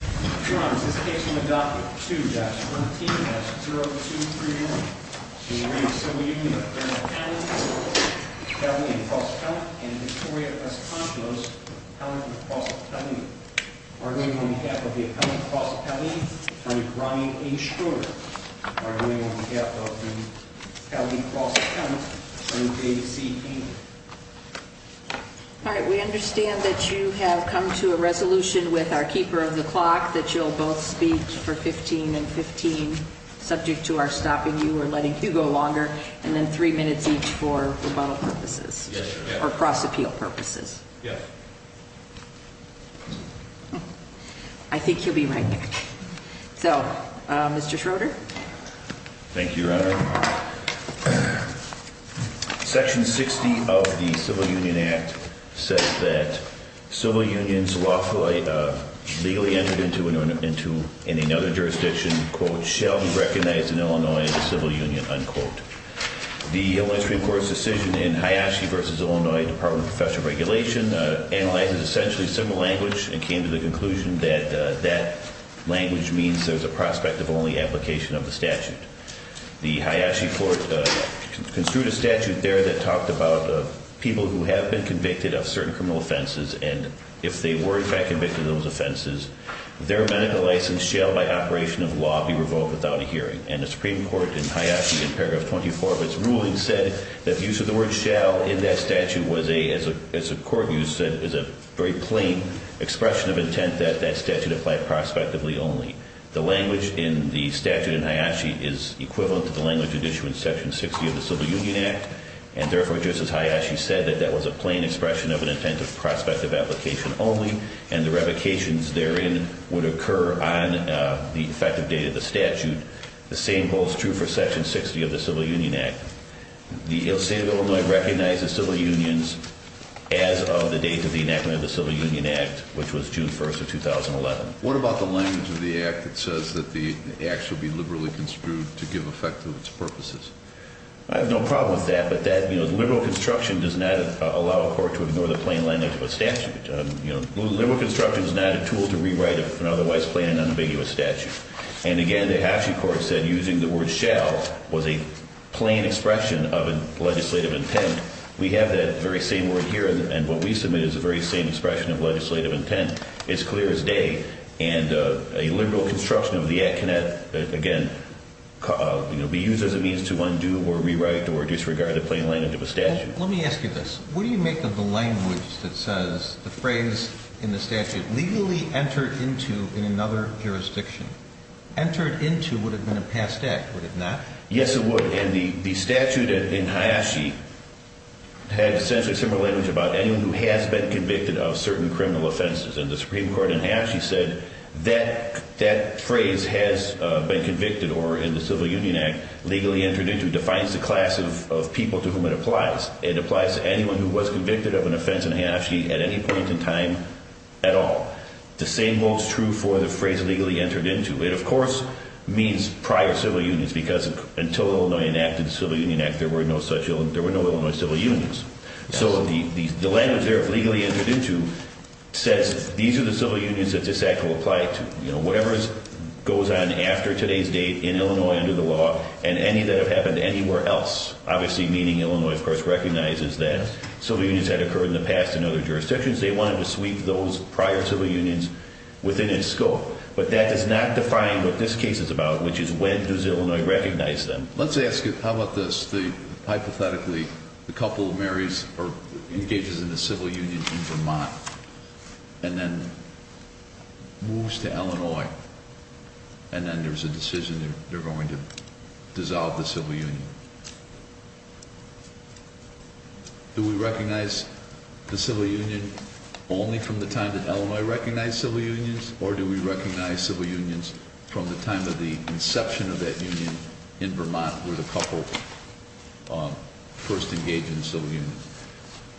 County and Cross County and Victoria Los Angeles County and Cross County are going on behalf of the accountant Cross County Attorney Brian H. Schroeder are going on behalf of the County Cross County Attorney David C. Keenan. All right. We understand that you have come to a resolution with our keeper of the clock that you'll both speak for 15 and 15 subject to our stopping you or letting you go longer and then three minutes each for rebuttal purposes or cross appeal purposes. Yes. I think you'll be right back. So Mr Schroeder. Thank you. Section 60 of the Civil Union Act says that civil unions lawfully legally entered into another jurisdiction quote shall be recognized in Illinois as a civil union unquote. The Supreme Court's decision in Hayashi versus Illinois Department of Special Regulation analyzes essentially civil language and came to the conclusion that that language means there's a prospect of only application of the statute. The Hayashi court construed a statute there that talked about people who have been convicted of certain criminal offenses and if they were in fact convicted of those offenses their medical license shall by operation of law be revoked without a hearing. And the Supreme Court in Hayashi in paragraph 24 of its ruling said that the use of the word shall in that statute was a as a court use that is a very plain expression of intent that that statute applied prospectively only. The language in the statute in Hayashi is equivalent to the language of issue in Section 60 of the Civil Union Act and therefore just as Hayashi said that that was a plain expression of an intent of prospect of application only and the revocations therein would occur on the effective date of the statute. The same holds true for Section 60 of the Civil Union Act. The state of Illinois recognizes civil unions as of the date of the enactment of the Civil Union Act which was June 1st of 2011. What about the language of the act that says that the act should be liberally construed to give effect to its purposes? I have no problem with that but that, you know, liberal construction does not allow a court to ignore the plain language of a statute. You know, liberal construction is not a tool to rewrite an otherwise plain and unambiguous statute. And again the Hayashi court said using the word shall was a plain expression of a legislative intent. We have that very same word here and what we submit is a very same expression of legislative intent. It's clear as day and a liberal construction of the act cannot, again, you know, be used as a means to undo or rewrite or disregard a plain language of a statute. Let me ask you this. What do you make of the language that says the phrase in the statute legally entered into in another jurisdiction? Entered into would have been a passed act, would it not? Yes, it would. And the statute in Hayashi had essentially similar language about anyone who has been convicted of certain criminal offenses. And the Supreme Court in Hayashi said that phrase has been convicted or in the Civil Union Act legally entered into defines the class of people to whom it applies. It applies to anyone who was convicted of an offense in Hayashi at any point in time at all. The same holds true for the phrase legally entered into. It, of course, means prior civil unions because until Illinois enacted the Civil Union Act, there were no such, there were no Illinois civil unions. So the language there of legally entered into says these are the civil unions that this act will apply to. You know, whatever goes on after today's date in Illinois under the law and any that have happened anywhere else, obviously meaning Illinois of course recognizes that civil unions had occurred in the past in other jurisdictions. They wanted to sweep those prior civil unions within its scope. But that does not define what this case is about, which is when does Illinois recognize them? Let's ask it. How about this? The, hypothetically, the couple of Marys engages in the civil union in Vermont and then moves to Illinois. And then there's a decision they're going to dissolve the civil union. Do we recognize the civil union only from the time that Illinois recognized civil unions? Or do we recognize civil unions from the time of the inception of that union in Vermont where the couple first engaged in civil unions?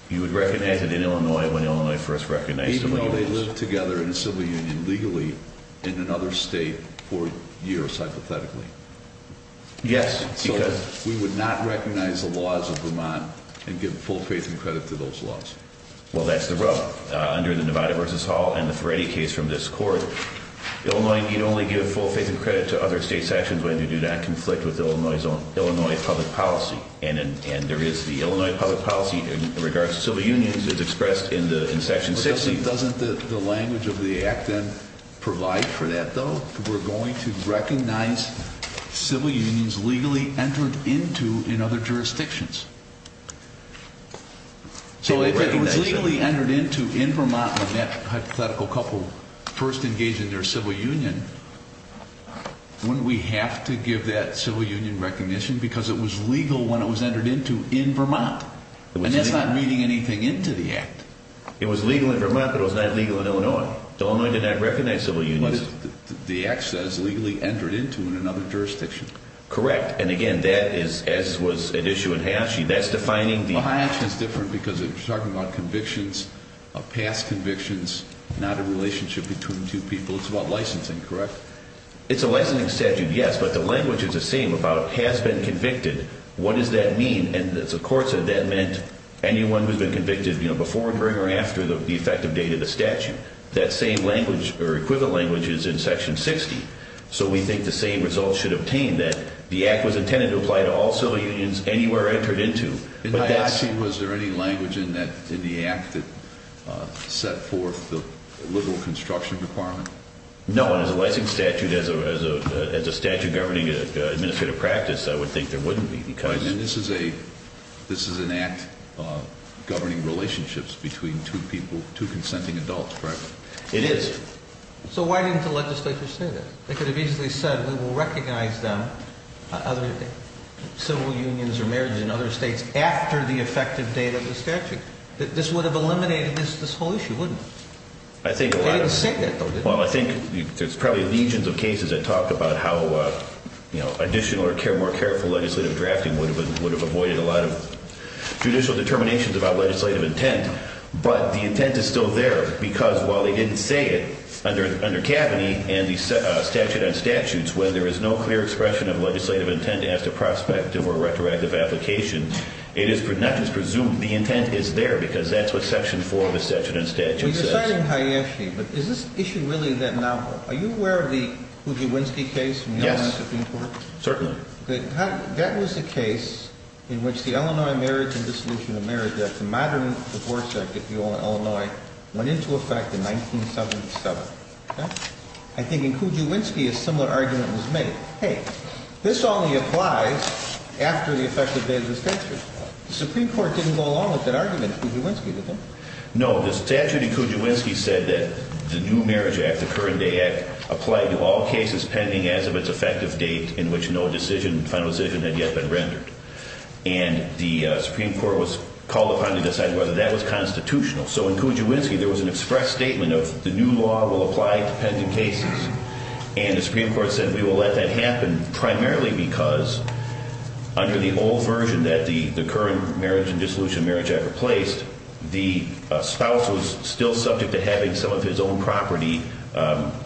You would recognize it in Illinois when Illinois first recognized civil unions. Even though they lived together in a civil union legally in another state for years, hypothetically? Yes. We would not recognize the laws of Vermont and give full faith and credit to those laws. Well, that's the rub. Under the Nevada v. Hall and the Feretti case from this court, Illinois can only give full faith and credit to other state sections when they do not conflict with Illinois's own Illinois public policy. And there is the Illinois public policy in regards to civil unions is expressed in Section 16. Doesn't the language of the act then provide for that, though? We're going to recognize civil unions legally entered into in other jurisdictions. So if it was legally entered into in Vermont when that hypothetical couple first engaged in their civil union, wouldn't we have to give that civil union recognition because it was legal when it was entered into in Vermont? And that's not reading anything into the act. It was legal in Vermont, but it was not legal in Illinois. Illinois did not recognize civil unions. The act says legally entered into in another jurisdiction. Correct. And, again, that is, as was an issue in Hayashi, that's defining the… Well, Hayashi is different because it's talking about convictions, past convictions, not a relationship between two people. It's about licensing, correct? It's a licensing statute, yes, but the language is the same about has been convicted. What does that mean? And the court said that meant anyone who's been convicted before, during, or after the effective date of the statute. That same language or equivalent language is in Section 60, so we think the same results should obtain that the act was intended to apply to all civil unions anywhere entered into. In Hayashi, was there any language in the act that set forth the liberal construction requirement? No, and as a licensing statute, as a statute governing an administrative practice, I would think there wouldn't be because… Right, and this is an act governing relationships between two people, two consenting adults, correct? It is. So why didn't the legislature say that? They could have easily said we will recognize them, other civil unions or mayors in other states, after the effective date of the statute. This would have eliminated this whole issue, wouldn't it? I think a lot of… They didn't say that, though, did they? Well, I think there's probably legions of cases that talk about how additional or more careful legislative drafting would have avoided a lot of judicial determinations about legislative intent. But the intent is still there because while they didn't say it under Kaveny and the statute on statutes, when there is no clear expression of legislative intent as to prospective or retroactive application, it is not just presumed. The intent is there because that's what Section 4 of the statute says. You're citing Hayeshi, but is this issue really that novel? Are you aware of the Kujawinski case from the Illinois Supreme Court? Yes, certainly. That was a case in which the Illinois Marriage and Dissolution of Marriage Act, the modern divorce act, if you will, in Illinois, went into effect in 1977. Okay? I think in Kujawinski a similar argument was made. Hey, this only applies after the effective date of the statute. The Supreme Court didn't go along with that argument in Kujawinski, did they? No. The statute in Kujawinski said that the new marriage act, the current day act, applied to all cases pending as of its effective date in which no decision, final decision, had yet been rendered. And the Supreme Court was called upon to decide whether that was constitutional. So in Kujawinski there was an express statement of the new law will apply to pending cases. And the Supreme Court said we will let that happen primarily because under the old version that the current marriage and dissolution of marriage act replaced, the spouse was still subject to having some of his own property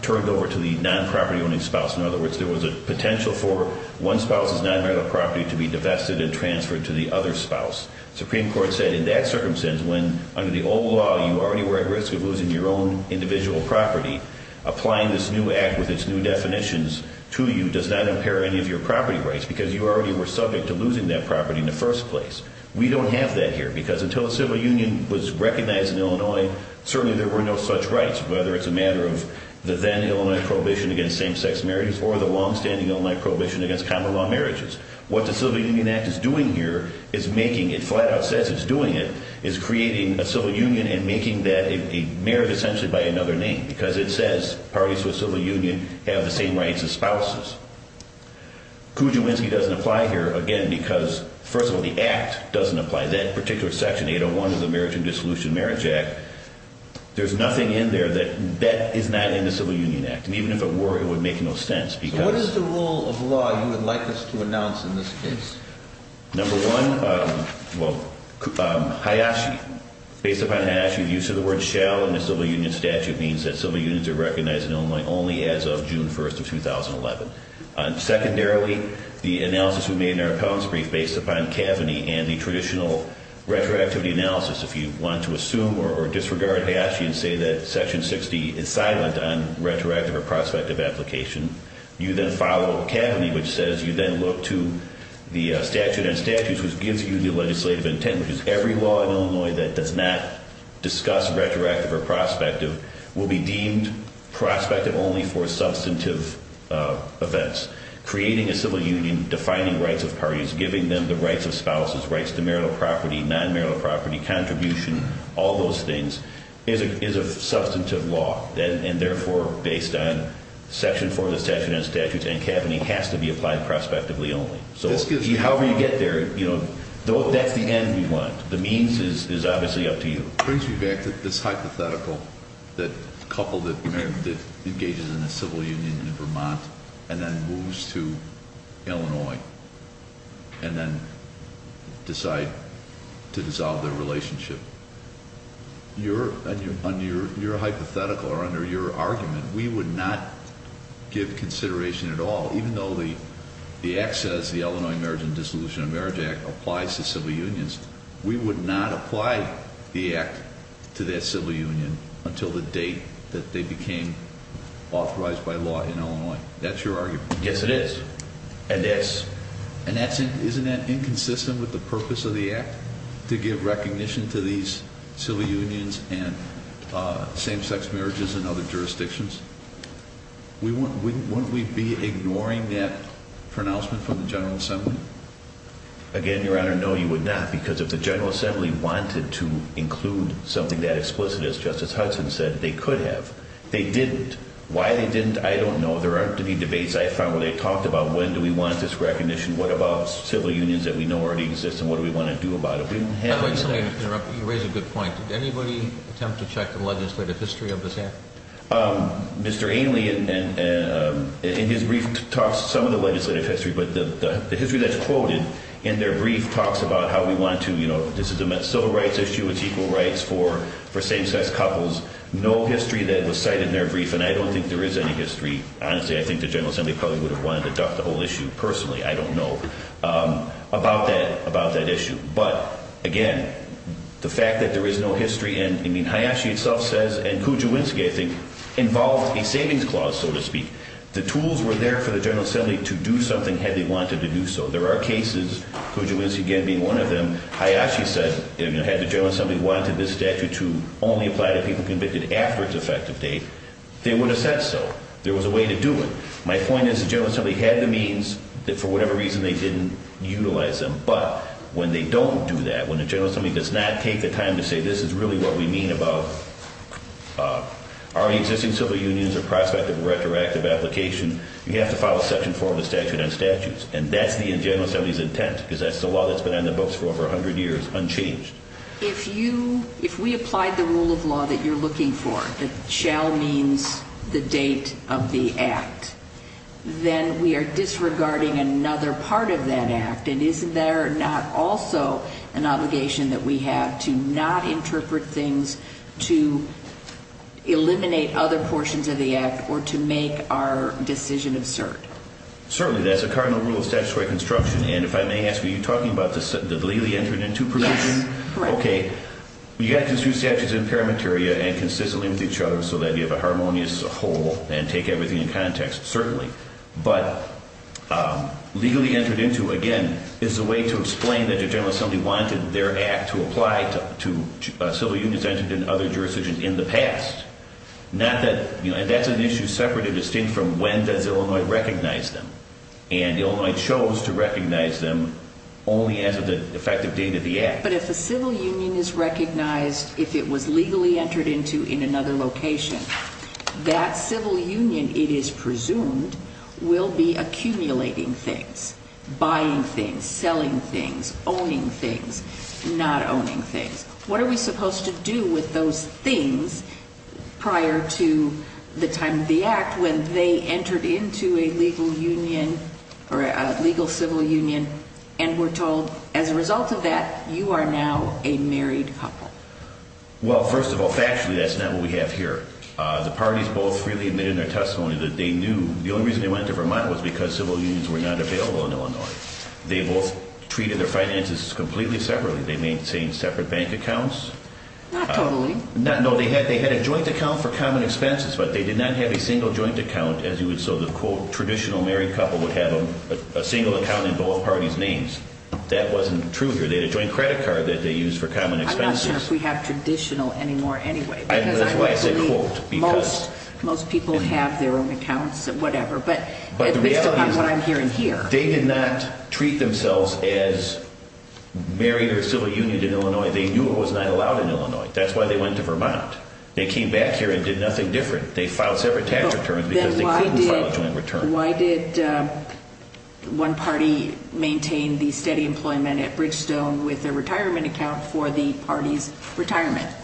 turned over to the non-property owning spouse. In other words, there was a potential for one spouse's non-marital property to be divested and transferred to the other spouse. The Supreme Court said in that circumstance when under the old law you already were at risk of losing your own individual property, applying this new act with its new definitions to you does not impair any of your property rights because you already were subject to losing that property in the first place. We don't have that here because until the civil union was recognized in Illinois, certainly there were no such rights, whether it's a matter of the then Illinois prohibition against same-sex marriages or the long-standing Illinois prohibition against common law marriages. What the civil union act is doing here is making it flat out says it's doing it is creating a civil union and making that a marriage essentially by another name because it says parties to a civil union have the same rights as spouses. Kujawinski doesn't apply here again because first of all the act doesn't apply. That particular section 801 of the marriage and dissolution of marriage act, there's nothing in there that is not in the civil union act. And even if it were it would make no sense because What is the rule of law you would like us to announce in this case? Number one, Hayashi. Based upon Hayashi, the use of the word shall in the civil union statute means that civil unions are recognized in Illinois only as of June 1st of 2011. Secondarily, the analysis we made in our appellant's brief based upon Kaveny and the traditional retroactivity analysis. If you want to assume or disregard Hayashi and say that section 60 is silent on retroactive or prospective application, you then follow Kaveny which says you then look to the statute and statutes which gives you the legislative intent, which is every law in Illinois that does not discuss retroactive or prospective will be deemed prospective only for substantive application. Creating a civil union, defining rights of parties, giving them the rights of spouses, rights to marital property, non-marital property, contribution, all those things is a substantive law. And therefore based on section 4 of the statute and statutes and Kaveny has to be applied prospectively only. So however you get there, that's the end we want. The means is obviously up to you. It brings me back to this hypothetical that engages in a civil union in Vermont and then moves to Illinois and then decide to dissolve their relationship. Your hypothetical or under your argument, we would not give consideration at all, even though the act says the Illinois Marriage and Dissolution of Marriage Act applies to civil unions. We would not apply the act to that civil union until the date that they became authorized by law in Illinois. That's your argument. Yes, it is. And isn't that inconsistent with the purpose of the act to give recognition to these civil unions and same-sex marriages and other jurisdictions? Wouldn't we be ignoring that pronouncement from the General Assembly? Again, Your Honor, no you would not because if the General Assembly wanted to include something that explicit, as Justice Hudson said, they could have. They didn't. Why they didn't, I don't know. There aren't any debates I found where they talked about when do we want this recognition, what about civil unions that we know already exist, and what do we want to do about it. You raise a good point. Did anybody attempt to check the legislative history of this act? Mr. Ainley, in his brief, talks some of the legislative history, but the history that's quoted in their brief talks about how we want to, you know, this is a civil rights issue. It's equal rights for same-sex couples. No history that was cited in their brief, and I don't think there is any history. Honestly, I think the General Assembly probably would have wanted to duck the whole issue personally. I don't know about that issue. But, again, the fact that there is no history, and I mean, Hayashi itself says, and Kujawinski, I think, involved a savings clause, so to speak. The tools were there for the General Assembly to do something had they wanted to do so. There are cases, Kujawinski again being one of them. Hayashi said, you know, had the General Assembly wanted this statute to only apply to people convicted after its effective date, they would have said so. There was a way to do it. My point is the General Assembly had the means that for whatever reason they didn't utilize them. But when they don't do that, when the General Assembly does not take the time to say this is really what we mean about already existing civil unions or prospective retroactive application, you have to file a section four of the statute on statutes. And that's the General Assembly's intent, because that's the law that's been on the books for over 100 years, unchanged. If we applied the rule of law that you're looking for, that shall means the date of the act, then we are disregarding another part of that act. And isn't there not also an obligation that we have to not interpret things to eliminate other portions of the act or to make our decision absurd? Certainly. That's a cardinal rule of statutory construction. And if I may ask, are you talking about the legally entered into provision? Yes. Correct. Okay. You got to construe statutes in parameteria and consistently with each other so that you have a harmonious whole and take everything in context. Certainly. But legally entered into, again, is a way to explain that the General Assembly wanted their act to apply to civil unions entered in other jurisdictions in the past. Not that, you know, and that's an issue separate and distinct from when does Illinois recognize them. And Illinois chose to recognize them only as of the effective date of the act. But if a civil union is recognized, if it was legally entered into in another location, that civil union, it is presumed, will be accumulating things, buying things, selling things, owning things, not owning things. What are we supposed to do with those things prior to the time of the act when they entered into a legal union or a legal civil union and were told, as a result of that, you are now a married couple? Well, first of all, factually, that's not what we have here. The parties both freely admitted in their testimony that they knew. The only reason they went to Vermont was because civil unions were not available in Illinois. They both treated their finances completely separately. They maintained separate bank accounts. Not totally. No, they had a joint account for common expenses, but they did not have a single joint account as you would so the, quote, traditional married couple would have a single account in both parties' names. That wasn't true here. They had a joint credit card that they used for common expenses. I'm not sure if we have traditional anymore anyway. That's why I said quote. Because I don't believe most people have their own accounts or whatever. But the reality is they did not treat themselves as married or civil unions. They knew it was not allowed in Illinois. That's why they went to Vermont. They came back here and did nothing different. They filed separate tax returns because they couldn't file a joint return. Then why did one party maintain the steady employment at Bridgestone with a retirement account for the party's retirement?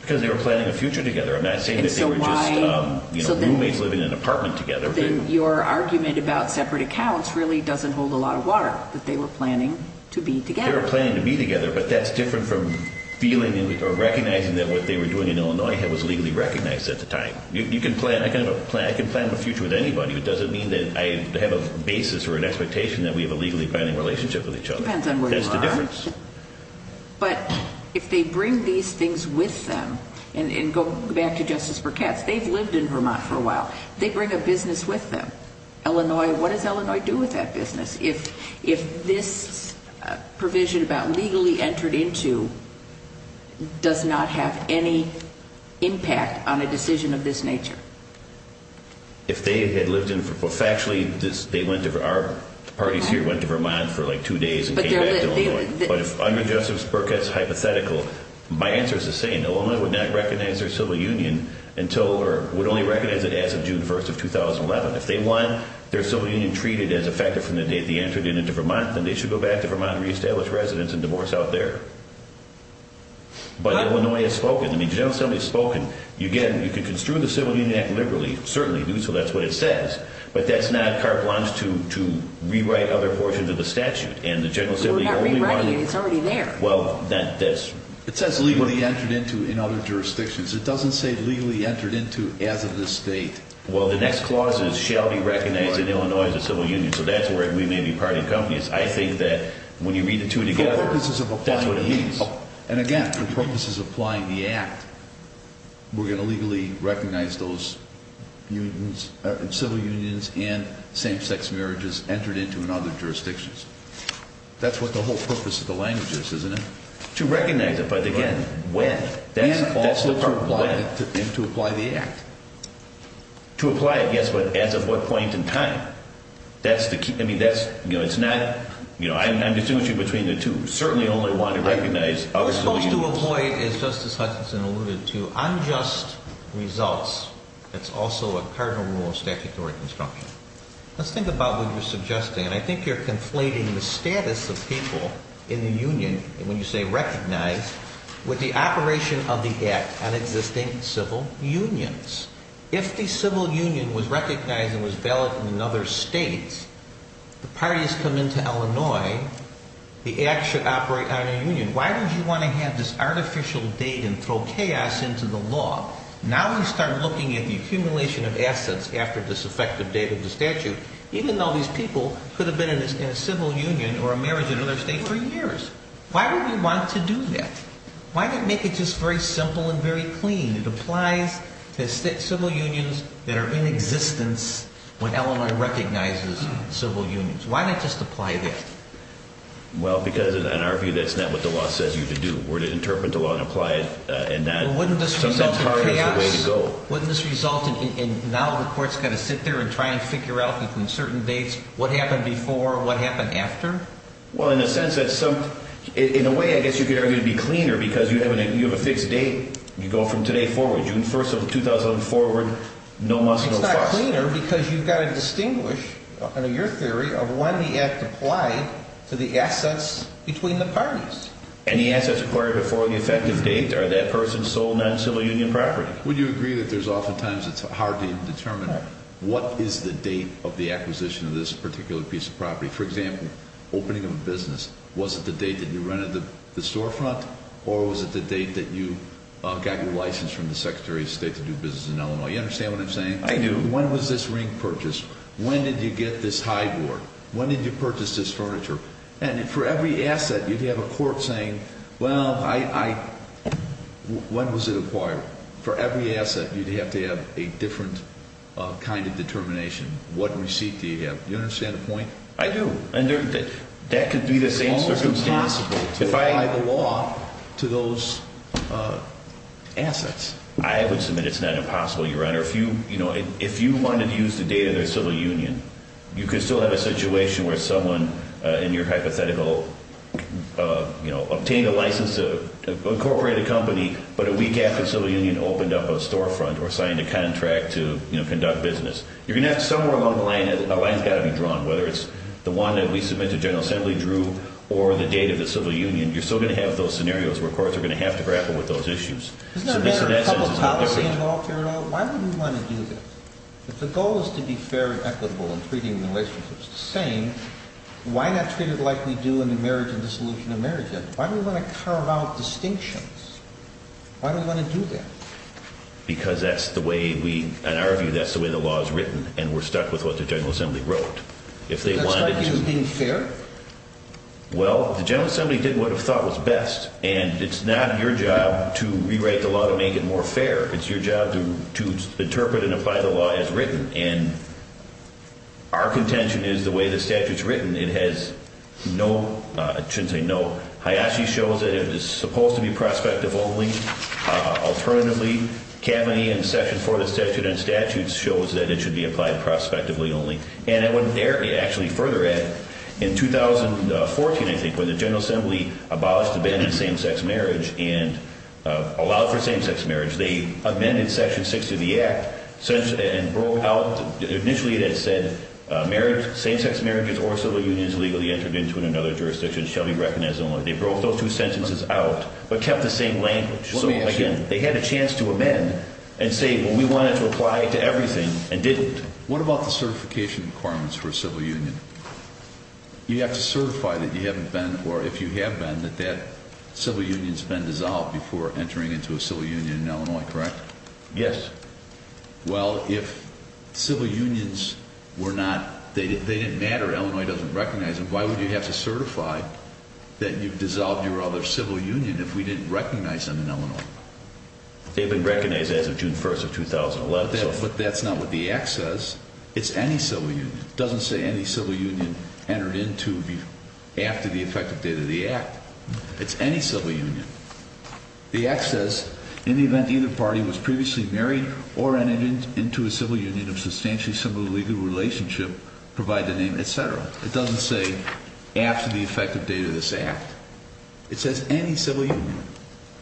Because they were planning a future together. I'm not saying that they were just roommates living in an apartment together. Then your argument about separate accounts really doesn't hold a lot of water, that they were planning to be together. They were planning to be together, but that's different from feeling or recognizing that what they were doing in Illinois was legally recognized at the time. You can plan. I can have a plan. I can plan my future with anybody. It doesn't mean that I have a basis or an expectation that we have a legally binding relationship with each other. It depends on where you are. That's the difference. But if they bring these things with them and go back to Justice Burkett's, they've lived in Vermont for a while. They bring a business with them. Illinois, what does Illinois do with that business? If this provision about legally entered into does not have any impact on a decision of this nature? If they had lived in Vermont, well, factually our parties here went to Vermont for like two days and came back to Illinois. But if under Justice Burkett's hypothetical, my answer is the same. Illinois would not recognize their civil union until or would only recognize it as of June 1st of 2011. If they want their civil union treated as a factor from the date they entered into Vermont, then they should go back to Vermont and reestablish residence and divorce out there. But Illinois has spoken. The General Assembly has spoken. Again, you can construe the Civil Union Act liberally. Certainly do. So that's what it says. But that's not carte blanche to rewrite other portions of the statute. We're not rewriting it. It's already there. It says legally entered into in other jurisdictions. It doesn't say legally entered into as of this date. Well, the next clauses shall be recognized in Illinois as a civil union. So that's where we may be party companies. I think that when you read the two together, that's what it means. And, again, the purpose is applying the act. We're going to legally recognize those civil unions and same-sex marriages entered into in other jurisdictions. That's what the whole purpose of the language is, isn't it? To recognize it. But, again, when? And to apply the act. To apply it, yes, but as of what point in time? That's the key. I mean, that's, you know, it's not, you know, I'm distinguishing between the two. Certainly only want to recognize other civil unions. We're supposed to avoid, as Justice Hutchinson alluded to, unjust results. That's also a cardinal rule of statutory construction. Let's think about what you're suggesting. I think you're conflating the status of people in the union, when you say recognize, with the operation of the act on existing civil unions. If the civil union was recognized and was valid in another state, the parties come into Illinois, the act should operate on a union. Why would you want to have this artificial date and throw chaos into the law? Now we start looking at the accumulation of assets after this effective date of the statute. Even though these people could have been in a civil union or a marriage in another state for years. Why would we want to do that? Why not make it just very simple and very clean? It applies to civil unions that are in existence when Illinois recognizes civil unions. Why not just apply that? Well, because in our view, that's not what the law says you to do. We're to interpret the law and apply it. Wouldn't this result in chaos? Wouldn't this result in now the courts have to sit there and try to figure out between certain dates what happened before and what happened after? In a way, I guess you could argue it would be cleaner because you have a fixed date. You go from today forward, June 1st of 2004, no must, no fuss. It's not cleaner because you've got to distinguish, under your theory, of when the act applied to the assets between the parties. Any assets acquired before the effective date are that person's sole non-civil union property. Would you agree that oftentimes it's hard to determine what is the date of the acquisition of this particular piece of property? For example, opening of a business, was it the date that you rented the storefront? Or was it the date that you got your license from the Secretary of State to do business in Illinois? You understand what I'm saying? I do. When was this ring purchased? When did you get this high board? When did you purchase this furniture? And for every asset, you'd have a court saying, well, when was it acquired? For every asset, you'd have to have a different kind of determination. What receipt do you have? Do you understand the point? I do. That could be the same circumstance. It's almost impossible to apply the law to those assets. I would submit it's not impossible, Your Honor. If you wanted to use the date of their civil union, you could still have a situation where someone, in your hypothetical, obtained a license to incorporate a company, but a week after civil union opened up a storefront or signed a contract to conduct business. You're going to have to somewhere along the line, a line's got to be drawn, whether it's the one that we submit to General Assembly, Drew, or the date of the civil union. You're still going to have those scenarios where courts are going to have to grapple with those issues. Isn't there a better public policy involved here at all? Why would we want to do that? If the goal is to be fair and equitable in treating relationships the same, why not treat it like we do in the marriage and dissolution of marriage? Why do we want to carve out distinctions? Why do we want to do that? Because that's the way we, in our view, that's the way the law is written, and we're stuck with what the General Assembly wrote. That's like being fair? Well, the General Assembly did what it thought was best, and it's not your job to rewrite the law to make it more fair. It's your job to interpret and apply the law as written, and our contention is the way the statute's written. It has no, I shouldn't say no, Hayashi shows that it is supposed to be prospective only. Alternatively, Kavanaugh in Section 4 of the Statute and Statutes shows that it should be applied prospectively only. And I wouldn't dare actually further add, in 2014, I think, when the General Assembly abolished the ban on same-sex marriage and allowed for same-sex marriage, they amended Section 6 of the Act and broke out, initially it had said, same-sex marriages or civil unions legally entered into in another jurisdiction shall be recognized only. They broke those two sentences out but kept the same language. So, again, they had a chance to amend and say, but we wanted to apply it to everything and didn't. What about the certification requirements for a civil union? You have to certify that you haven't been, or if you have been, that that civil union's been dissolved before entering into a civil union in Illinois, correct? Yes. Well, if civil unions were not, they didn't matter, Illinois doesn't recognize them, why would you have to certify that you've dissolved your other civil union if we didn't recognize them in Illinois? They've been recognized as of June 1st of 2011. But that's not what the Act says. It's any civil union. It doesn't say any civil union entered into after the effective date of the Act. It's any civil union. The Act says, in the event either party was previously married or entered into a civil union of substantially similar legal relationship, provide the name, et cetera. It doesn't say after the effective date of this Act. It says any civil union.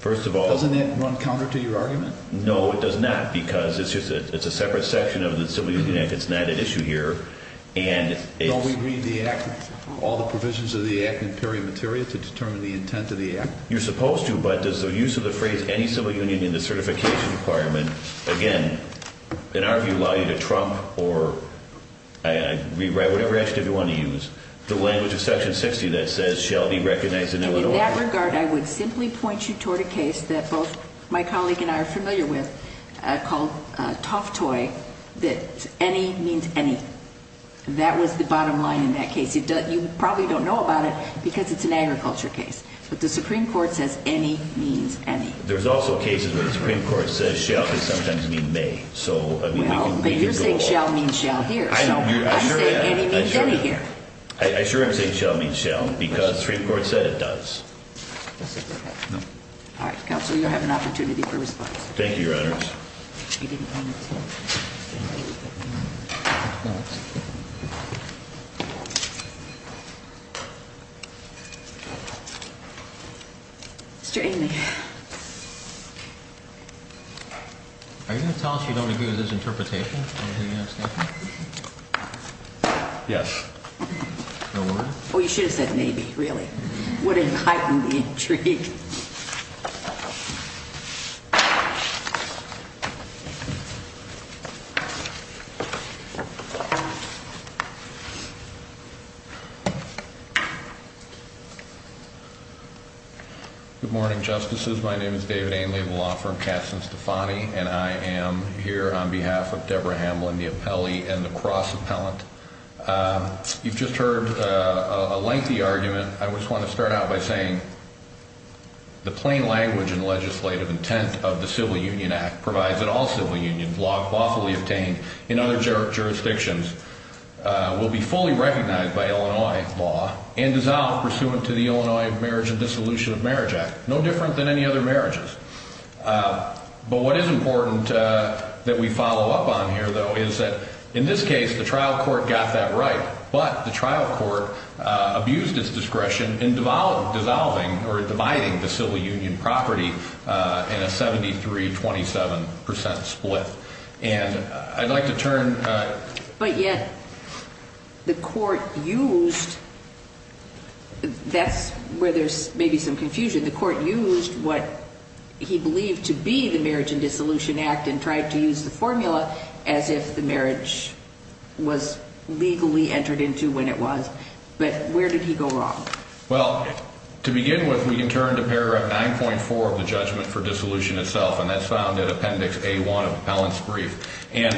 First of all, Doesn't that run counter to your argument? No, it does not, because it's a separate section of the Civil Union Act. It's not at issue here. Don't we read all the provisions of the Act in period material to determine the intent of the Act? You're supposed to, but does the use of the phrase any civil union in the certification requirement, again, in our view, allow you to trump or rewrite whatever adjective you want to use the language of Section 60 that says shall be recognized in Illinois? In that regard, I would simply point you toward a case that both my colleague and I are familiar with, called Toftoy, that any means any. That was the bottom line in that case. You probably don't know about it because it's an agriculture case, but the Supreme Court says any means any. There's also cases where the Supreme Court says shall sometimes mean may. But you're saying shall means shall here. I know. I'm saying any means any here. I assure you I'm saying shall means shall because the Supreme Court said it does. All right, Counsel, you have an opportunity for response. Thank you, Your Honors. Mr. Amey. Are you going to tell us you don't agree with his interpretation? Yes. Oh, you should have said maybe, really. What an heightened intrigue. Good morning, Justices. My name is David Amey of the law firm Katzen-Stefani, and I am here on behalf of Deborah Hamlin, the appellee and the cross-appellant. You've just heard a lengthy argument. I just want to start out by saying the plain language and legislative intent of the Civil Union Act provides that all civil unions lawfully obtained in other jurisdictions will be fully recognized by Illinois law and dissolved pursuant to the Illinois Marriage and Dissolution of Marriage Act, no different than any other marriages. But what is important that we follow up on here, though, is that in this case the trial court got that right, but the trial court abused its discretion in dissolving or dividing the civil union property in a 73-27% split. And I'd like to turn... But yet the court used, that's where there's maybe some confusion, the court used what he believed to be the Marriage and Dissolution Act and tried to use the formula as if the marriage was legally entered into when it was. But where did he go wrong? Well, to begin with, we can turn to paragraph 9.4 of the judgment for dissolution itself, and that's found in appendix A-1 of the appellant's brief. And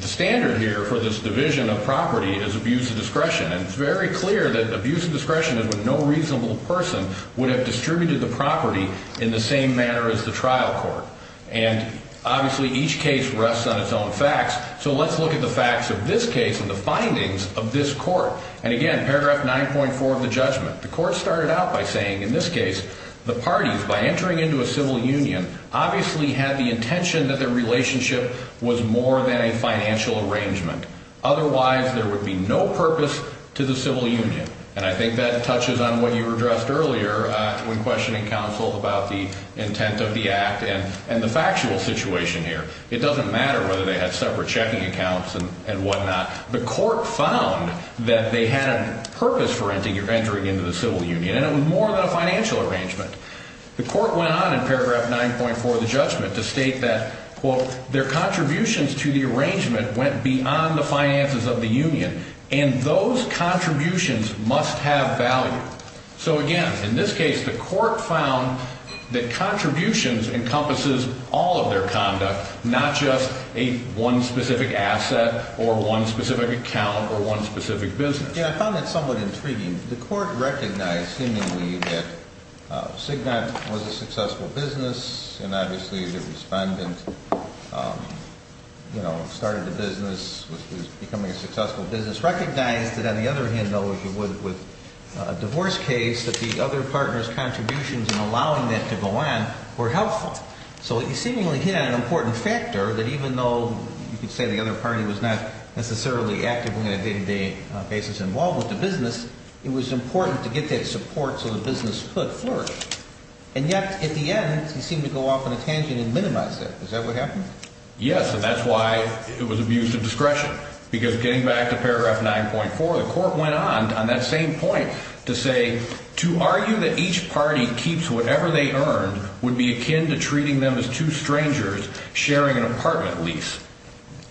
the standard here for this division of property is abuse of discretion, and it's very clear that abuse of discretion is when no reasonable person would have distributed the property in the same manner as the trial court. And obviously each case rests on its own facts, so let's look at the facts of this case and the findings of this court. And again, paragraph 9.4 of the judgment, the court started out by saying, in this case, the parties, by entering into a civil union, obviously had the intention that their relationship was more than a financial arrangement. Otherwise there would be no purpose to the civil union. And I think that touches on what you addressed earlier when questioning counsel about the intent of the act and the factual situation here. It doesn't matter whether they had separate checking accounts and whatnot. The court found that they had a purpose for entering into the civil union, and it was more than a financial arrangement. The court went on in paragraph 9.4 of the judgment to state that, quote, their contributions to the arrangement went beyond the finances of the union, and those contributions must have value. So again, in this case, the court found that contributions encompasses all of their conduct, not just one specific asset or one specific account or one specific business. Yeah, I found that somewhat intriguing. The court recognized seemingly that Cigna was a successful business, and obviously the respondent, you know, started the business, was becoming a successful business, recognized that on the other hand, though, as you would with a divorce case, that the other partner's contributions in allowing that to go on were helpful. So he seemingly hit on an important factor that even though you could say the other party was not necessarily actively on a day-to-day basis involved with the business, it was important to get that support so the business could flourish. And yet, at the end, he seemed to go off on a tangent and minimize that. Is that what happened? Yes, and that's why it was abuse of discretion, because getting back to paragraph 9.4, the court went on on that same point to say, to argue that each party keeps whatever they earned would be akin to treating them as two strangers sharing an apartment lease.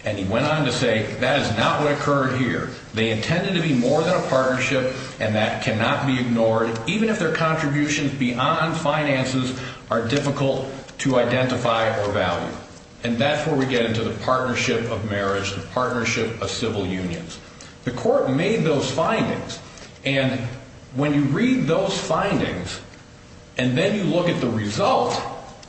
And he went on to say, that is not what occurred here. They intended to be more than a partnership, and that cannot be ignored, even if their contributions beyond finances are difficult to identify or value. And that's where we get into the partnership of marriage, the partnership of civil unions. The court made those findings, and when you read those findings and then you look at the result,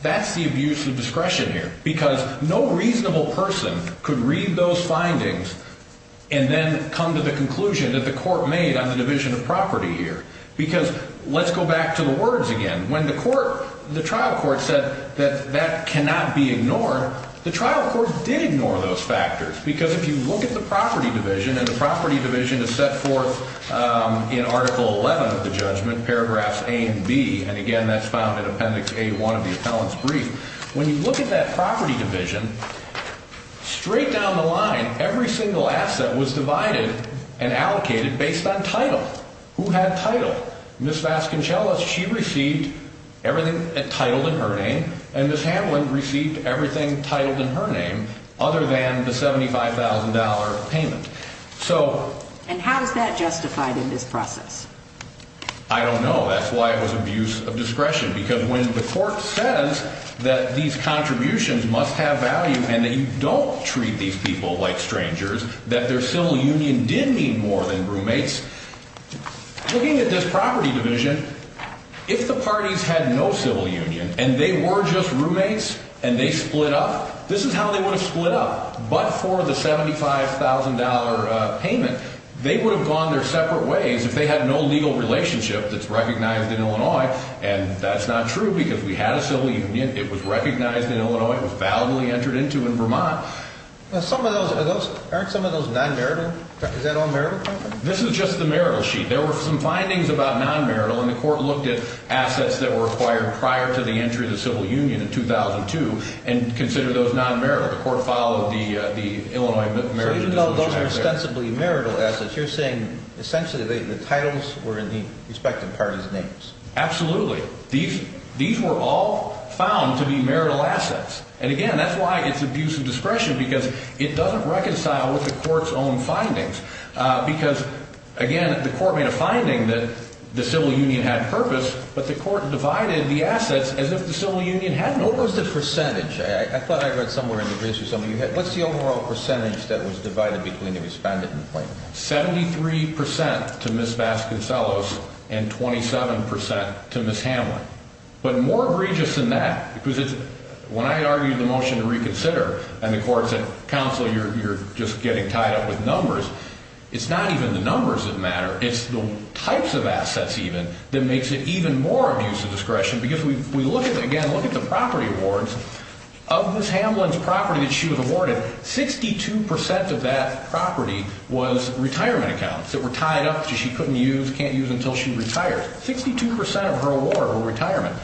that's the abuse of discretion here. Because no reasonable person could read those findings and then come to the conclusion that the court made on the division of property here. Because let's go back to the words again. When the trial court said that that cannot be ignored, the trial court did ignore those factors. Because if you look at the property division, and the property division is set forth in Article 11 of the judgment, paragraphs A and B, and again that's found in Appendix A-1 of the appellant's brief. When you look at that property division, straight down the line, every single asset was divided and allocated based on title. Who had title? Ms. Vasconcellos, she received everything titled in her name, and Ms. Hamlin received everything titled in her name other than the $75,000 payment. And how is that justified in this process? I don't know. That's why it was abuse of discretion. Because when the court says that these contributions must have value and that you don't treat these people like strangers, that their civil union did mean more than roommates, looking at this property division, if the parties had no civil union and they were just roommates and they split up, this is how they would have split up. But for the $75,000 payment, they would have gone their separate ways if they had no legal relationship that's recognized in Illinois, and that's not true because we had a civil union. It was recognized in Illinois. It was validly entered into in Vermont. Aren't some of those non-marital? Is that all marital property? This is just the marital sheet. There were some findings about non-marital, and the court looked at assets that were acquired prior to the entry of the civil union in 2002 and considered those non-marital. The court followed the Illinois marital distribution. So even though those are ostensibly marital assets, you're saying essentially the titles were in the respective parties' names. Absolutely. These were all found to be marital assets. And, again, that's why it's abuse of discretion because it doesn't reconcile with the court's own findings. Because, again, the court made a finding that the civil union had purpose, but the court divided the assets as if the civil union hadn't. What was the percentage? I thought I read somewhere in the briefs or something. What's the overall percentage that was divided between the misbanded and plain? Seventy-three percent to Ms. Vasconcellos and 27 percent to Ms. Hamlin. But more egregious than that, because when I argued the motion to reconsider and the court said, Counsel, you're just getting tied up with numbers, it's not even the numbers that matter. It's the types of assets, even, that makes it even more abuse of discretion. Because we look at, again, look at the property awards. Of Ms. Hamlin's property that she was awarded, 62 percent of that property was retirement accounts that were tied up that she couldn't use, can't use until she retired. Sixty-two percent of her award were retirement.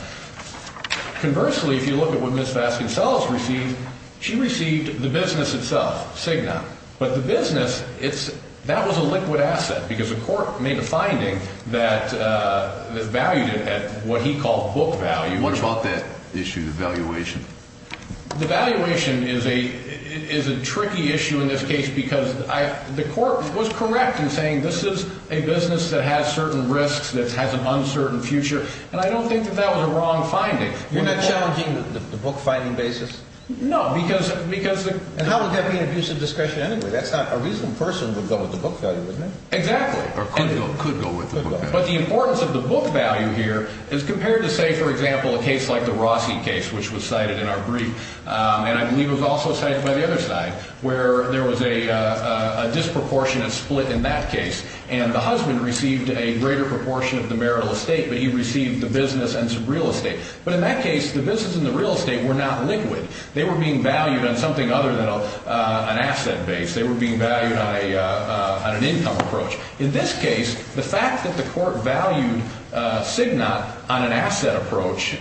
Conversely, if you look at what Ms. Vasconcellos received, she received the business itself, Cigna. But the business, that was a liquid asset, because the court made a finding that valued it at what he called book value. What about that issue, the valuation? The valuation is a tricky issue in this case, because the court was correct in saying this is a business that has certain risks, that has an uncertain future, and I don't think that that was a wrong finding. You're not challenging the book-finding basis? No, because the – And how would that be an abuse of discretion anyway? That's not – a reasonable person would go with the book value, isn't it? Exactly. Or could go with the book value. But the importance of the book value here is compared to, say, for example, a case like the Rossi case, which was cited in our brief, and I believe it was also cited by the other side, where there was a disproportionate split in that case, and the husband received a greater proportion of the marital estate, but he received the business and some real estate. But in that case, the business and the real estate were not liquid. They were being valued on something other than an asset base. They were being valued on an income approach. In this case, the fact that the court valued CIGNA on an asset approach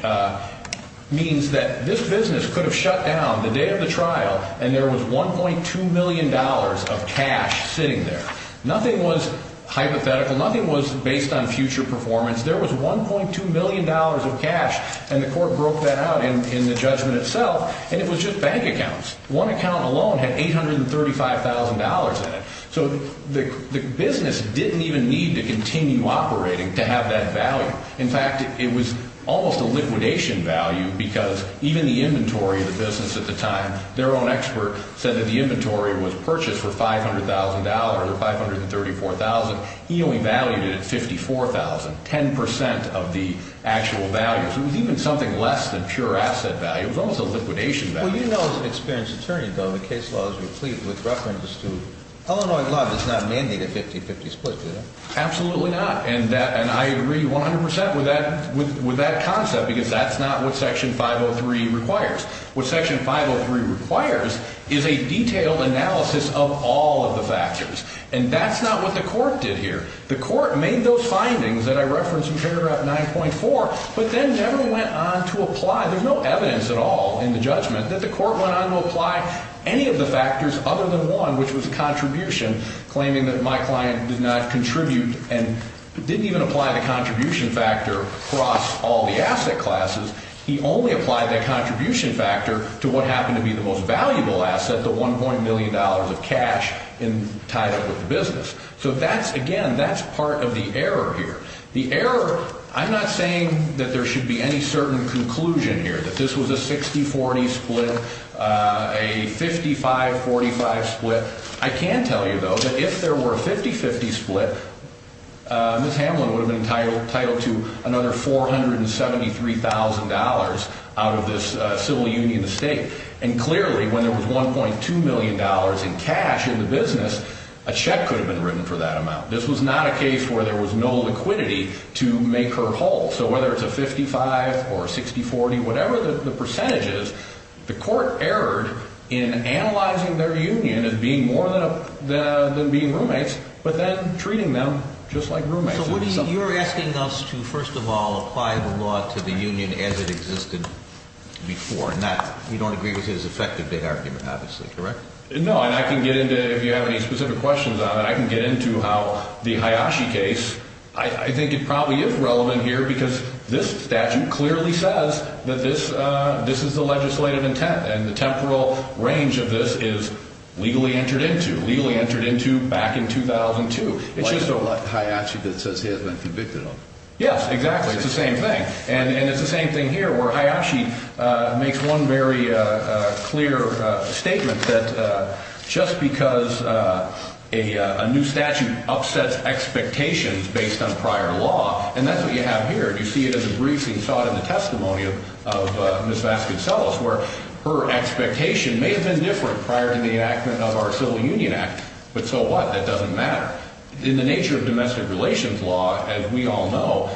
means that this business could have shut down the day of the trial and there was $1.2 million of cash sitting there. Nothing was hypothetical. Nothing was based on future performance. There was $1.2 million of cash, and the court broke that out in the judgment itself, and it was just bank accounts. One account alone had $835,000 in it. So the business didn't even need to continue operating to have that value. In fact, it was almost a liquidation value because even the inventory of the business at the time, their own expert said that the inventory was purchased for $500,000 or $534,000. He only valued it at $54,000, 10% of the actual value. It was even something less than pure asset value. It was almost a liquidation value. Well, you know as an experienced attorney, though, the case law is complete with reference to Illinois law does not mandate a 50-50 split. Absolutely not, and I agree 100% with that concept because that's not what Section 503 requires. What Section 503 requires is a detailed analysis of all of the factors, and that's not what the court did here. The court made those findings that I referenced in paragraph 9.4 but then never went on to apply. There's no evidence at all in the judgment that the court went on to apply any of the factors other than one, which was a contribution, claiming that my client did not contribute and didn't even apply the contribution factor across all the asset classes. He only applied that contribution factor to what happened to be the most valuable asset, the $1.1 million of cash tied up with the business. So that's, again, that's part of the error here. The error, I'm not saying that there should be any certain conclusion here, that this was a 60-40 split, a 55-45 split. I can tell you, though, that if there were a 50-50 split, Ms. Hamlin would have been entitled to another $473,000 out of this civil union estate, and clearly when there was $1.2 million in cash in the business, a check could have been written for that amount. This was not a case where there was no liquidity to make her whole. So whether it's a 55 or a 60-40, whatever the percentage is, the court erred in analyzing their union as being more than being roommates but then treating them just like roommates. So you're asking us to, first of all, apply the law to the union as it existed before, and you don't agree with his effective argument, obviously, correct? No, and I can get into, if you have any specific questions on it, I can get into how the Hayashi case, I think it probably is relevant here because this statute clearly says that this is the legislative intent and the temporal range of this is legally entered into, legally entered into back in 2002. Like Hayashi that says he has been convicted of it. Yes, exactly, it's the same thing. And it's the same thing here where Hayashi makes one very clear statement that just because a new statute upsets expectations based on prior law, and that's what you have here, you see it in the briefing, you saw it in the testimony of Ms. Vasconcellos, where her expectation may have been different prior to the enactment of our Civil Union Act, but so what, that doesn't matter. In the nature of domestic relations law, as we all know,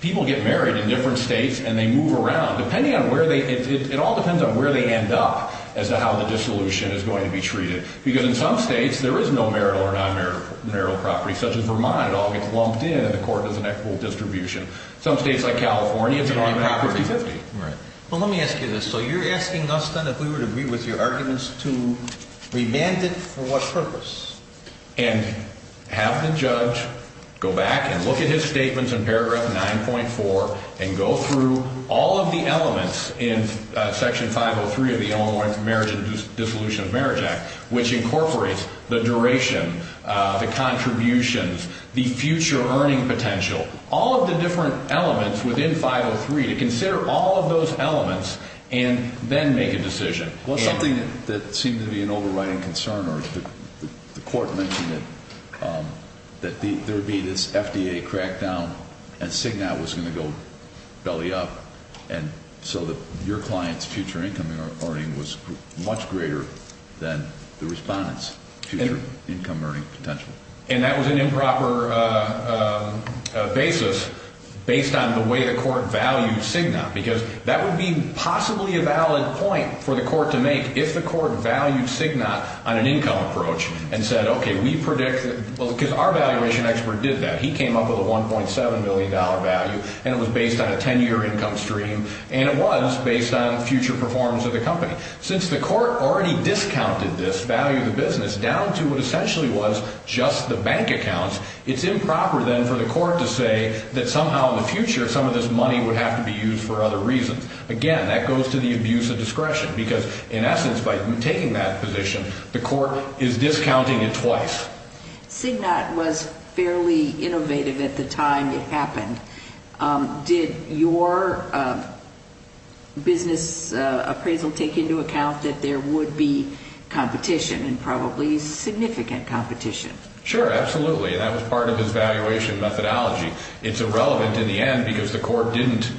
people get married in different states and they move around. It all depends on where they end up as to how the dissolution is going to be treated because in some states there is no marital or non-marital property, such as Vermont. It all gets lumped in and the court doesn't have full distribution. Some states like California, it's an on-property 50. Well, let me ask you this. So you're asking us then if we would agree with your arguments to remand it for what purpose? And have the judge go back and look at his statements in paragraph 9.4 and go through all of the elements in section 503 of the Illinois Marriage and Dissolution of Marriage Act, which incorporates the duration, the contributions, the future earning potential, all of the different elements within 503 to consider all of those elements and then make a decision. Well, something that seemed to be an overriding concern, or the court mentioned it, that there would be this FDA crackdown and CIGNOT was going to go belly up and so your client's future income earning was much greater than the respondent's future income earning potential. And that was an improper basis based on the way the court valued CIGNOT because that would be possibly a valid point for the court to make if the court valued CIGNOT on an income approach and said, okay, we predict, because our valuation expert did that. He came up with a $1.7 million value and it was based on a 10-year income stream and it was based on future performance of the company. Since the court already discounted this value of the business down to what essentially was just the bank accounts, it's improper then for the court to say that somehow in the future some of this money would have to be used for other reasons. Again, that goes to the abuse of discretion because in essence by taking that position, the court is discounting it twice. CIGNOT was fairly innovative at the time it happened. Did your business appraisal take into account that there would be competition and probably significant competition? Sure, absolutely, and that was part of his valuation methodology. It's irrelevant in the end because the court didn't,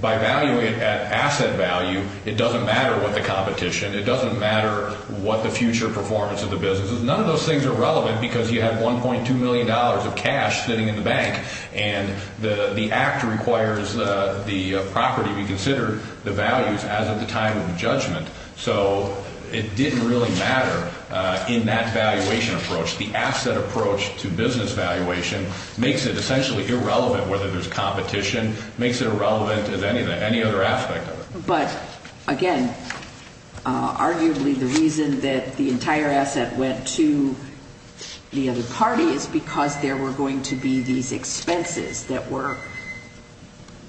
by valuing it at asset value, it doesn't matter what the competition, it doesn't matter what the future performance of the business is. None of those things are relevant because you have $1.2 million of cash sitting in the bank and the act requires the property be considered the values as of the time of judgment. So it didn't really matter in that valuation approach. The asset approach to business valuation makes it essentially irrelevant whether there's competition, makes it irrelevant as any other aspect of it. But again, arguably the reason that the entire asset went to the other party is because there were going to be these expenses that were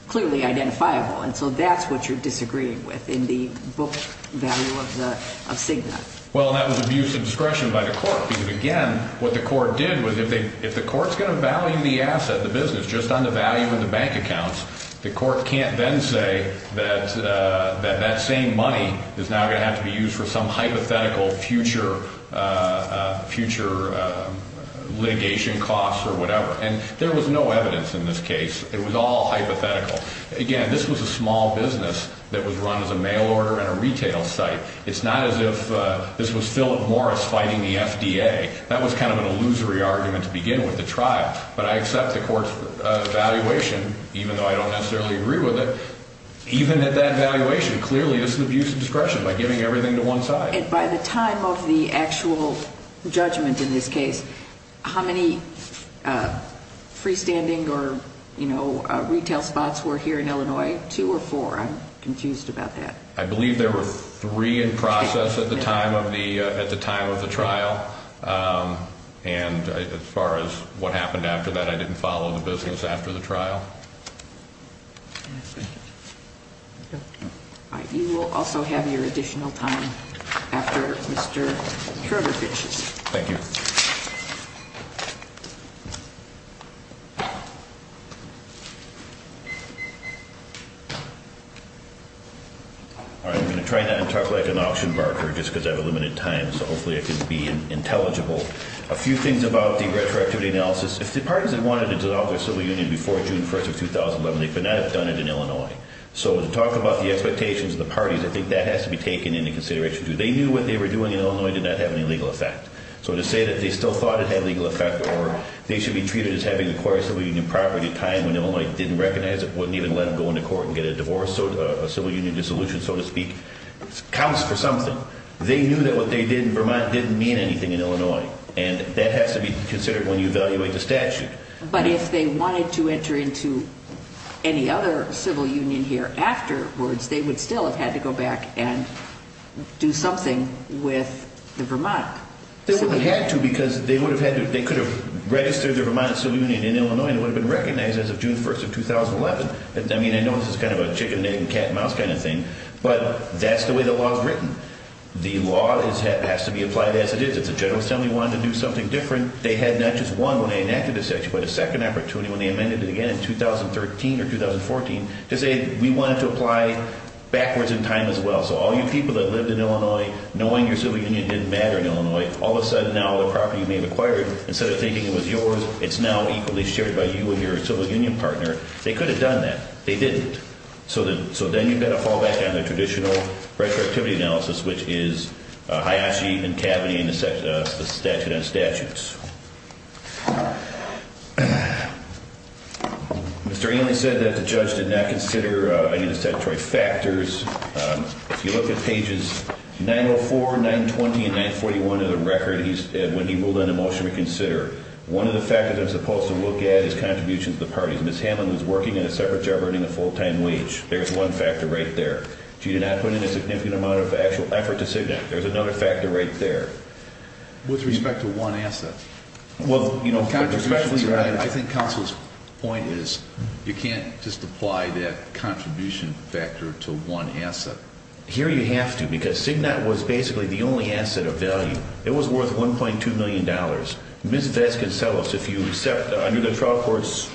clearly identifiable, and so that's what you're disagreeing with in the book value of CIGNOT. Well, that was abuse of discretion by the court because, again, what the court did was if the court's going to value the asset, the business, just on the value in the bank accounts, the court can't then say that that same money is now going to have to be used for some hypothetical future litigation costs or whatever. And there was no evidence in this case. It was all hypothetical. Again, this was a small business that was run as a mail order and a retail site. It's not as if this was Philip Morris fighting the FDA. That was kind of an illusory argument to begin with, the trial. But I accept the court's valuation, even though I don't necessarily agree with it. Even at that valuation, clearly this is abuse of discretion by giving everything to one side. And by the time of the actual judgment in this case, how many freestanding or retail spots were here in Illinois, two or four? I'm confused about that. I believe there were three in process at the time of the trial. And as far as what happened after that, I didn't follow the business after the trial. Thank you. You will also have your additional time after Mr. Kroger finishes. Thank you. I'm going to try not to talk like an auction broker just because I have a limited time, so hopefully I can be intelligible. A few things about the retroactivity analysis. If the parties had wanted to develop their civil union before June 1st of 2011, they could not have done it in Illinois. So to talk about the expectations of the parties, I think that has to be taken into consideration, too. They knew what they were doing in Illinois did not have any legal effect. So to say that they still thought it had legal effect or they should be treated as having acquired civil union property at a time when Illinois didn't recognize it, wouldn't even let them go into court and get a divorce, a civil union dissolution, so to speak, counts for something. They knew that what they did in Vermont didn't mean anything in Illinois. And that has to be considered when you evaluate the statute. But if they wanted to enter into any other civil union here afterwards, they would still have had to go back and do something with the Vermont civil union. They wouldn't have had to because they could have registered their Vermont civil union in Illinois and it would have been recognized as of June 1st of 2011. I mean, I know this is kind of a chicken, egg, and cat, mouse kind of thing, but that's the way the law is written. The law has to be applied as it is. If the General Assembly wanted to do something different, they had not just one when they enacted the statute, but a second opportunity when they amended it again in 2013 or 2014 to say we wanted to apply backwards in time as well. So all you people that lived in Illinois knowing your civil union didn't matter in Illinois, all of a sudden now the property you may have acquired, instead of thinking it was yours, it's now equally shared by you and your civil union partner, they could have done that. They didn't. So then you've got to fall back on the traditional retroactivity analysis, which is Hayashi and Kaveny and the statute on statutes. Mr. Ailey said that the judge did not consider any statutory factors. If you look at pages 904, 920, and 941 of the record when he ruled on a motion to consider, one of the factors I'm supposed to look at is contributions to the parties. Ms. Hamlin was working in a separate job earning a full-time wage. There's one factor right there. She did not put in a significant amount of actual effort to CIGNAT. There's another factor right there. With respect to one asset? Well, you know, I think counsel's point is you can't just apply that contribution factor to one asset. Here you have to because CIGNAT was basically the only asset of value. It was worth $1.2 million. Ms. Vasconcellos, if you accept under the trial court's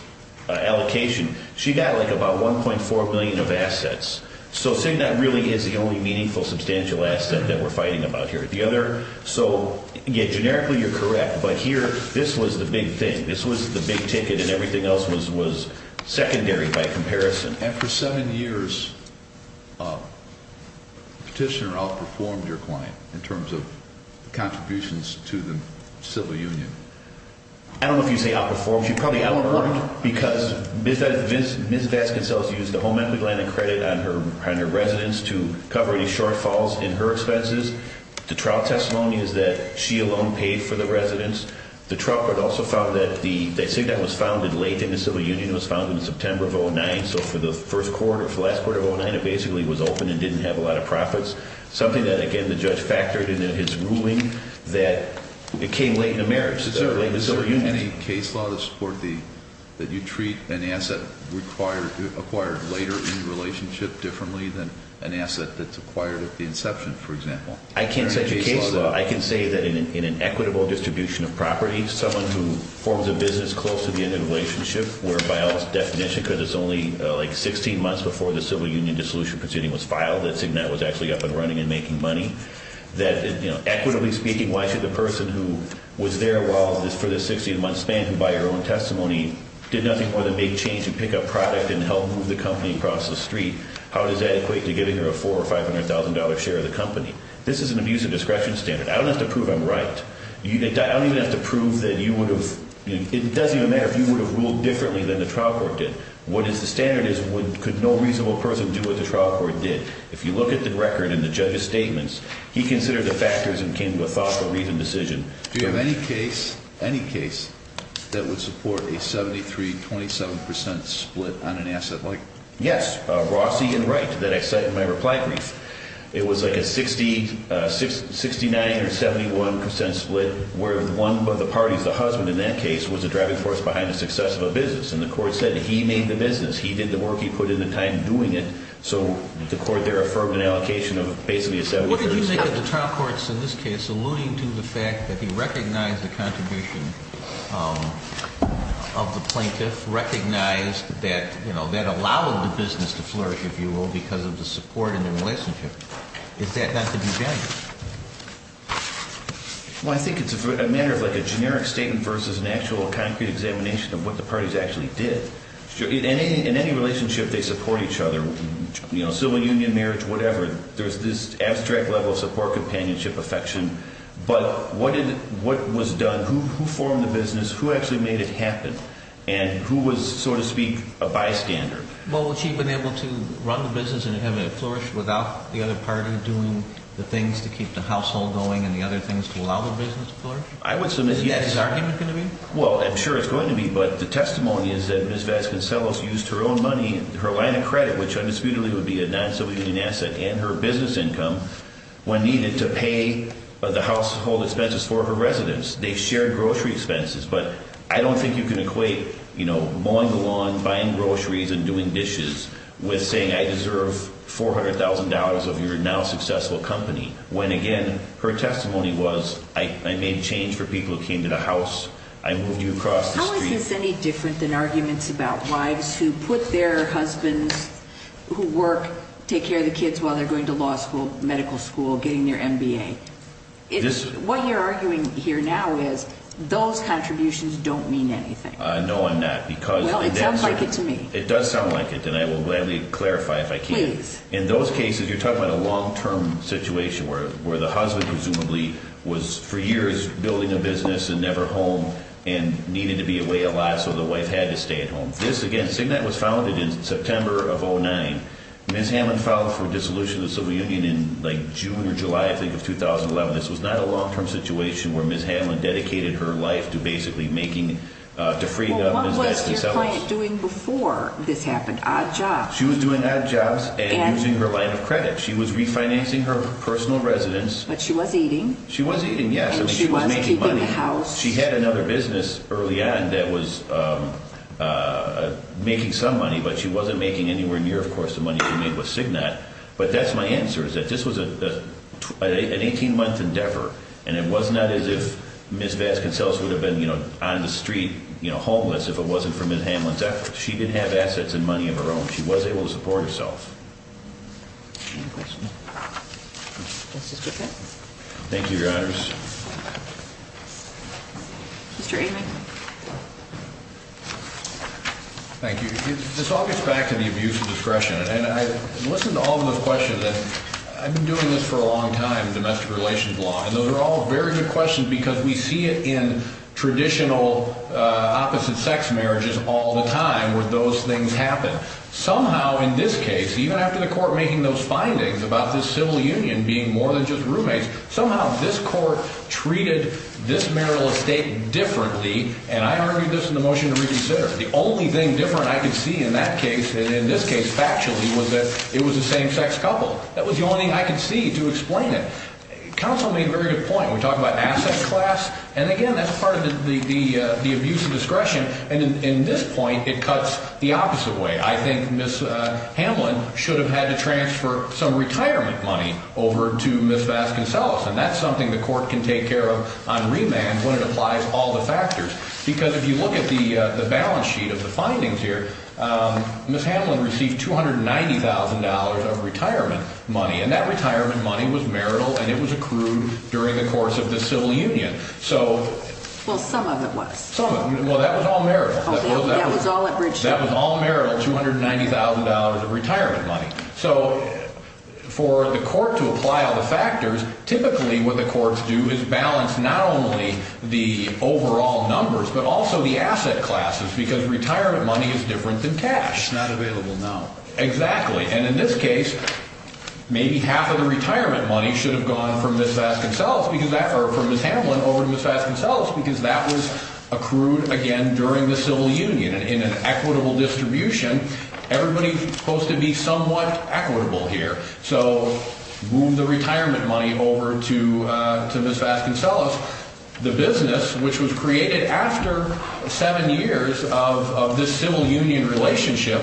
allocation, she got like about $1.4 million of assets. So CIGNAT really is the only meaningful substantial asset that we're fighting about here at the other. So, again, generically you're correct, but here this was the big thing. This was the big ticket, and everything else was secondary by comparison. And for seven years, Petitioner outperformed your client in terms of contributions to the civil union. I don't know if you say outperformed. She probably outperformed because Ms. Vasconcellos used the home equity line of credit on her residence to cover any shortfalls in her expenses. The trial testimony is that she alone paid for the residence. The trial court also found that CIGNAT was founded late in the civil union. It was founded in September of 2009, so for the first quarter, for the last quarter of 2009, it basically was open and didn't have a lot of profits, something that, again, the judge factored in his ruling that it came late in the marriage, late in the civil union. Is there any case law to support that you treat an asset acquired later in the relationship differently than an asset that's acquired at the inception, for example? I can't set you a case law. I can say that in an equitable distribution of property, someone who forms a business close to the end of the relationship, where by all definition because it's only like 16 months before the civil union dissolution proceeding was filed, that CIGNAT was actually up and running and making money, that, you know, equitably speaking, why should the person who was there for the 16-month span who, by her own testimony, did nothing more than make change and pick up product and help move the company across the street, how does that equate to giving her a $400,000 or $500,000 share of the company? This is an abuse of discretion standard. I don't have to prove I'm right. I don't even have to prove that you would have, you know, it doesn't even matter if you would have ruled differently than the trial court did. What is the standard is could no reasonable person do what the trial court did. If you look at the record and the judge's statements, he considered the factors and came to a thoughtful, reasoned decision. Do you have any case, any case, that would support a 73-27% split on an asset like? Yes, Rossi and Wright that I cite in my reply brief. It was like a 69 or 71% split where one of the parties, the husband in that case, was the driving force behind the success of a business, and the court said he made the business. He did the work. He put in the time doing it. So the court there affirmed an allocation of basically a 73% split. What did you think of the trial court's, in this case, alluding to the fact that he recognized the contribution of the plaintiff, recognized that, you know, that allowed the business to flourish, if you will, because of the support in their relationship? Is that not to be gendered? Well, I think it's a matter of like a generic statement versus an actual concrete examination of what the parties actually did. In any relationship, they support each other. You know, civil union, marriage, whatever, there's this abstract level of support, companionship, affection. But what was done, who formed the business, who actually made it happen, and who was, so to speak, a bystander? Well, would she have been able to run the business and have it flourish without the other party doing the things to keep the household going and the other things to allow the business to flourish? I would submit yes. Is that his argument going to be? Well, I'm sure it's going to be, but the testimony is that Ms. Vasconcellos used her own money, her line of credit, which undisputedly would be a non-civil union asset, and her business income when needed to pay the household expenses for her residence. They shared grocery expenses, but I don't think you can equate, you know, mowing the lawn, buying groceries, and doing dishes with saying I deserve $400,000 of your now successful company, when, again, her testimony was I made change for people who came to the house, I moved you across the street. How is this any different than arguments about wives who put their husbands, who work, take care of the kids while they're going to law school, medical school, getting their MBA? What you're arguing here now is those contributions don't mean anything. No, I'm not. Well, it sounds like it to me. It does sound like it, and I will gladly clarify if I can. Please. In those cases, you're talking about a long-term situation where the husband presumably was for years building a business and never home and needed to be away a lot, so the wife had to stay at home. This, again, SIGNET was founded in September of 2009. Ms. Hanlon filed for dissolution of the civil union in, like, June or July, I think, of 2011. This was not a long-term situation where Ms. Hanlon dedicated her life to basically making, to freeing up Ms. Bessie Sellers. Well, what was your client doing before this happened? Odd jobs. She was doing odd jobs and using her line of credit. She was refinancing her personal residence. But she was eating. She was eating, yes. And she was keeping the house. She had another business early on that was making some money, but she wasn't making anywhere near, of course, the money she made with SIGNET. But that's my answer, is that this was an 18-month endeavor, and it was not as if Ms. Bessie Sellers would have been on the street homeless if it wasn't for Ms. Hanlon's efforts. She did have assets and money of her own. She was able to support herself. Any questions? Thank you, Your Honors. Mr. Amick. Thank you. This all gets back to the abuse of discretion. And I listen to all of those questions, and I've been doing this for a long time, domestic relations law, and those are all very good questions because we see it in traditional opposite-sex marriages all the time where those things happen. Somehow in this case, even after the court making those findings about this civil union being more than just roommates, somehow this court treated this marital estate differently, and I argued this in the motion to reconsider. The only thing different I could see in that case, and in this case factually, was that it was a same-sex couple. That was the only thing I could see to explain it. Counsel made a very good point. We talk about asset class, and again, that's part of the abuse of discretion. And in this point, it cuts the opposite way. I think Ms. Hamlin should have had to transfer some retirement money over to Ms. Vasconcellos, and that's something the court can take care of on remand when it applies all the factors because if you look at the balance sheet of the findings here, Ms. Hamlin received $290,000 of retirement money, and that retirement money was marital, and it was accrued during the course of the civil union. Well, some of it was. Well, that was all marital. That was all marital, $290,000 of retirement money. So for the court to apply all the factors, typically what the courts do is balance not only the overall numbers but also the asset classes because retirement money is different than cash. It's not available now. Exactly, and in this case, maybe half of the retirement money should have gone from Ms. Vasconcellos or from Ms. Hamlin over to Ms. Vasconcellos because that was accrued, again, during the civil union in an equitable distribution. Everybody's supposed to be somewhat equitable here. So move the retirement money over to Ms. Vasconcellos. The business, which was created after seven years of this civil union relationship,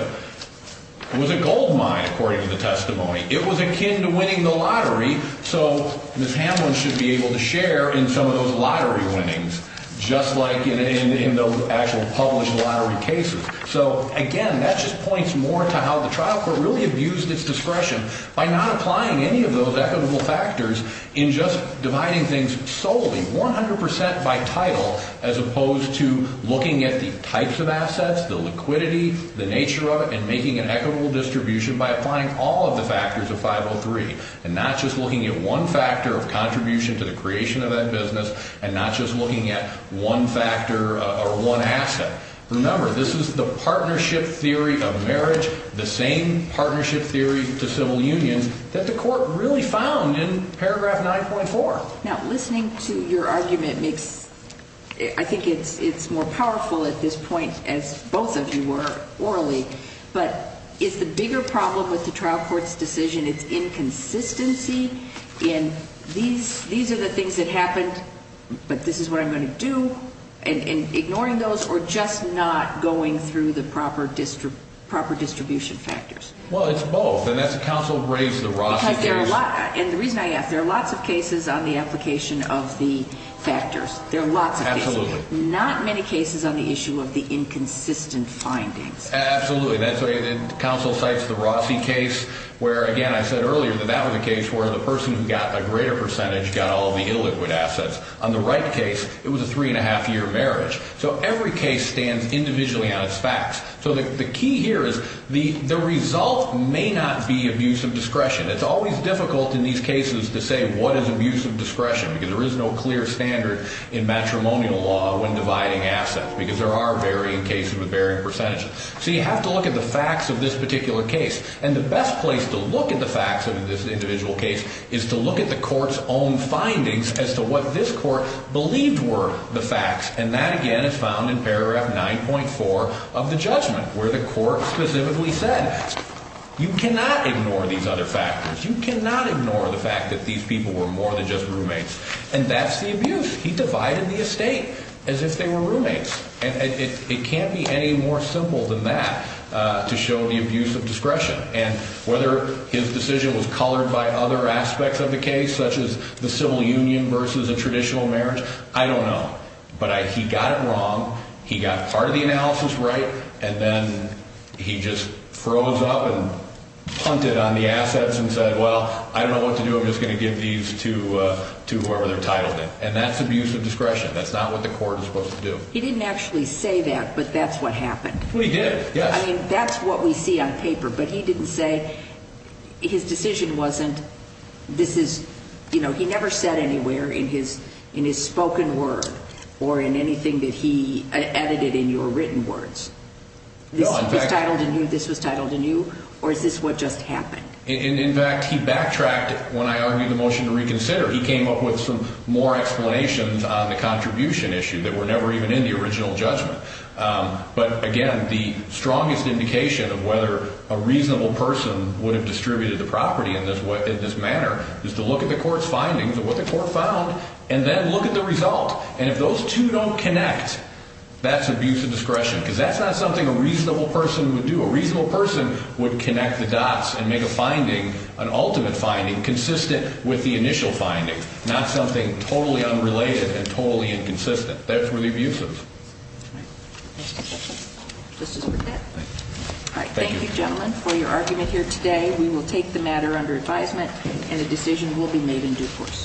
was a gold mine, according to the testimony. It was akin to winning the lottery, so Ms. Hamlin should be able to share in some of those lottery winnings just like in those actual published lottery cases. So, again, that just points more to how the trial court really abused its discretion by not applying any of those equitable factors in just dividing things solely 100% by title as opposed to looking at the types of assets, the liquidity, the nature of it, and making an equitable distribution by applying all of the factors of 503 and not just looking at one factor of contribution to the creation of that business and not just looking at one factor or one asset. Remember, this is the partnership theory of marriage, the same partnership theory to civil union that the court really found in paragraph 9.4. Now, listening to your argument, I think it's more powerful at this point, as both of you were orally, but is the bigger problem with the trial court's decision its inconsistency in these are the things that happened, but this is what I'm going to do, and ignoring those or just not going through the proper distribution factors? Well, it's both, and that's a counsel-raised-to-the-raw situation. And the reason I ask, there are lots of cases on the application of the factors. There are lots of cases. Absolutely. Not many cases on the issue of the inconsistent findings. Absolutely. Counsel cites the Rossi case where, again, I said earlier that that was a case where the person who got a greater percentage got all the illiquid assets. On the Wright case, it was a three-and-a-half-year marriage. So every case stands individually on its facts. So the key here is the result may not be abuse of discretion. It's always difficult in these cases to say what is abuse of discretion, because there is no clear standard in matrimonial law when dividing assets, because there are varying cases with varying percentages. So you have to look at the facts of this particular case, and the best place to look at the facts of this individual case is to look at the court's own findings as to what this court believed were the facts, and that, again, is found in paragraph 9.4 of the judgment, where the court specifically said you cannot ignore these other factors. You cannot ignore the fact that these people were more than just roommates. And that's the abuse. He divided the estate as if they were roommates. And it can't be any more simple than that to show the abuse of discretion. And whether his decision was colored by other aspects of the case, such as the civil union versus a traditional marriage, I don't know. But he got it wrong. He got part of the analysis right. And then he just froze up and punted on the assets and said, well, I don't know what to do. I'm just going to give these to whoever they're titled in. And that's abuse of discretion. That's not what the court is supposed to do. He didn't actually say that, but that's what happened. We did, yes. I mean, that's what we see on paper. But he didn't say his decision wasn't this is, you know, he never said anywhere in his spoken word or in anything that he edited in your written words. This was titled anew, or is this what just happened? In fact, he backtracked when I argued the motion to reconsider. He came up with some more explanations on the contribution issue that were never even in the original judgment. But, again, the strongest indication of whether a reasonable person would have distributed the property in this manner is to look at the court's findings of what the court found and then look at the result. And if those two don't connect, that's abuse of discretion, because that's not something a reasonable person would do. A reasonable person would connect the dots and make a finding, an ultimate finding, consistent with the initial finding, not something totally unrelated and totally inconsistent. That's where the abuse is. All right. Next question. Justice Burkett. All right. Thank you. Thank you, gentlemen, for your argument here today. We will take the matter under advisement, and a decision will be made in due course.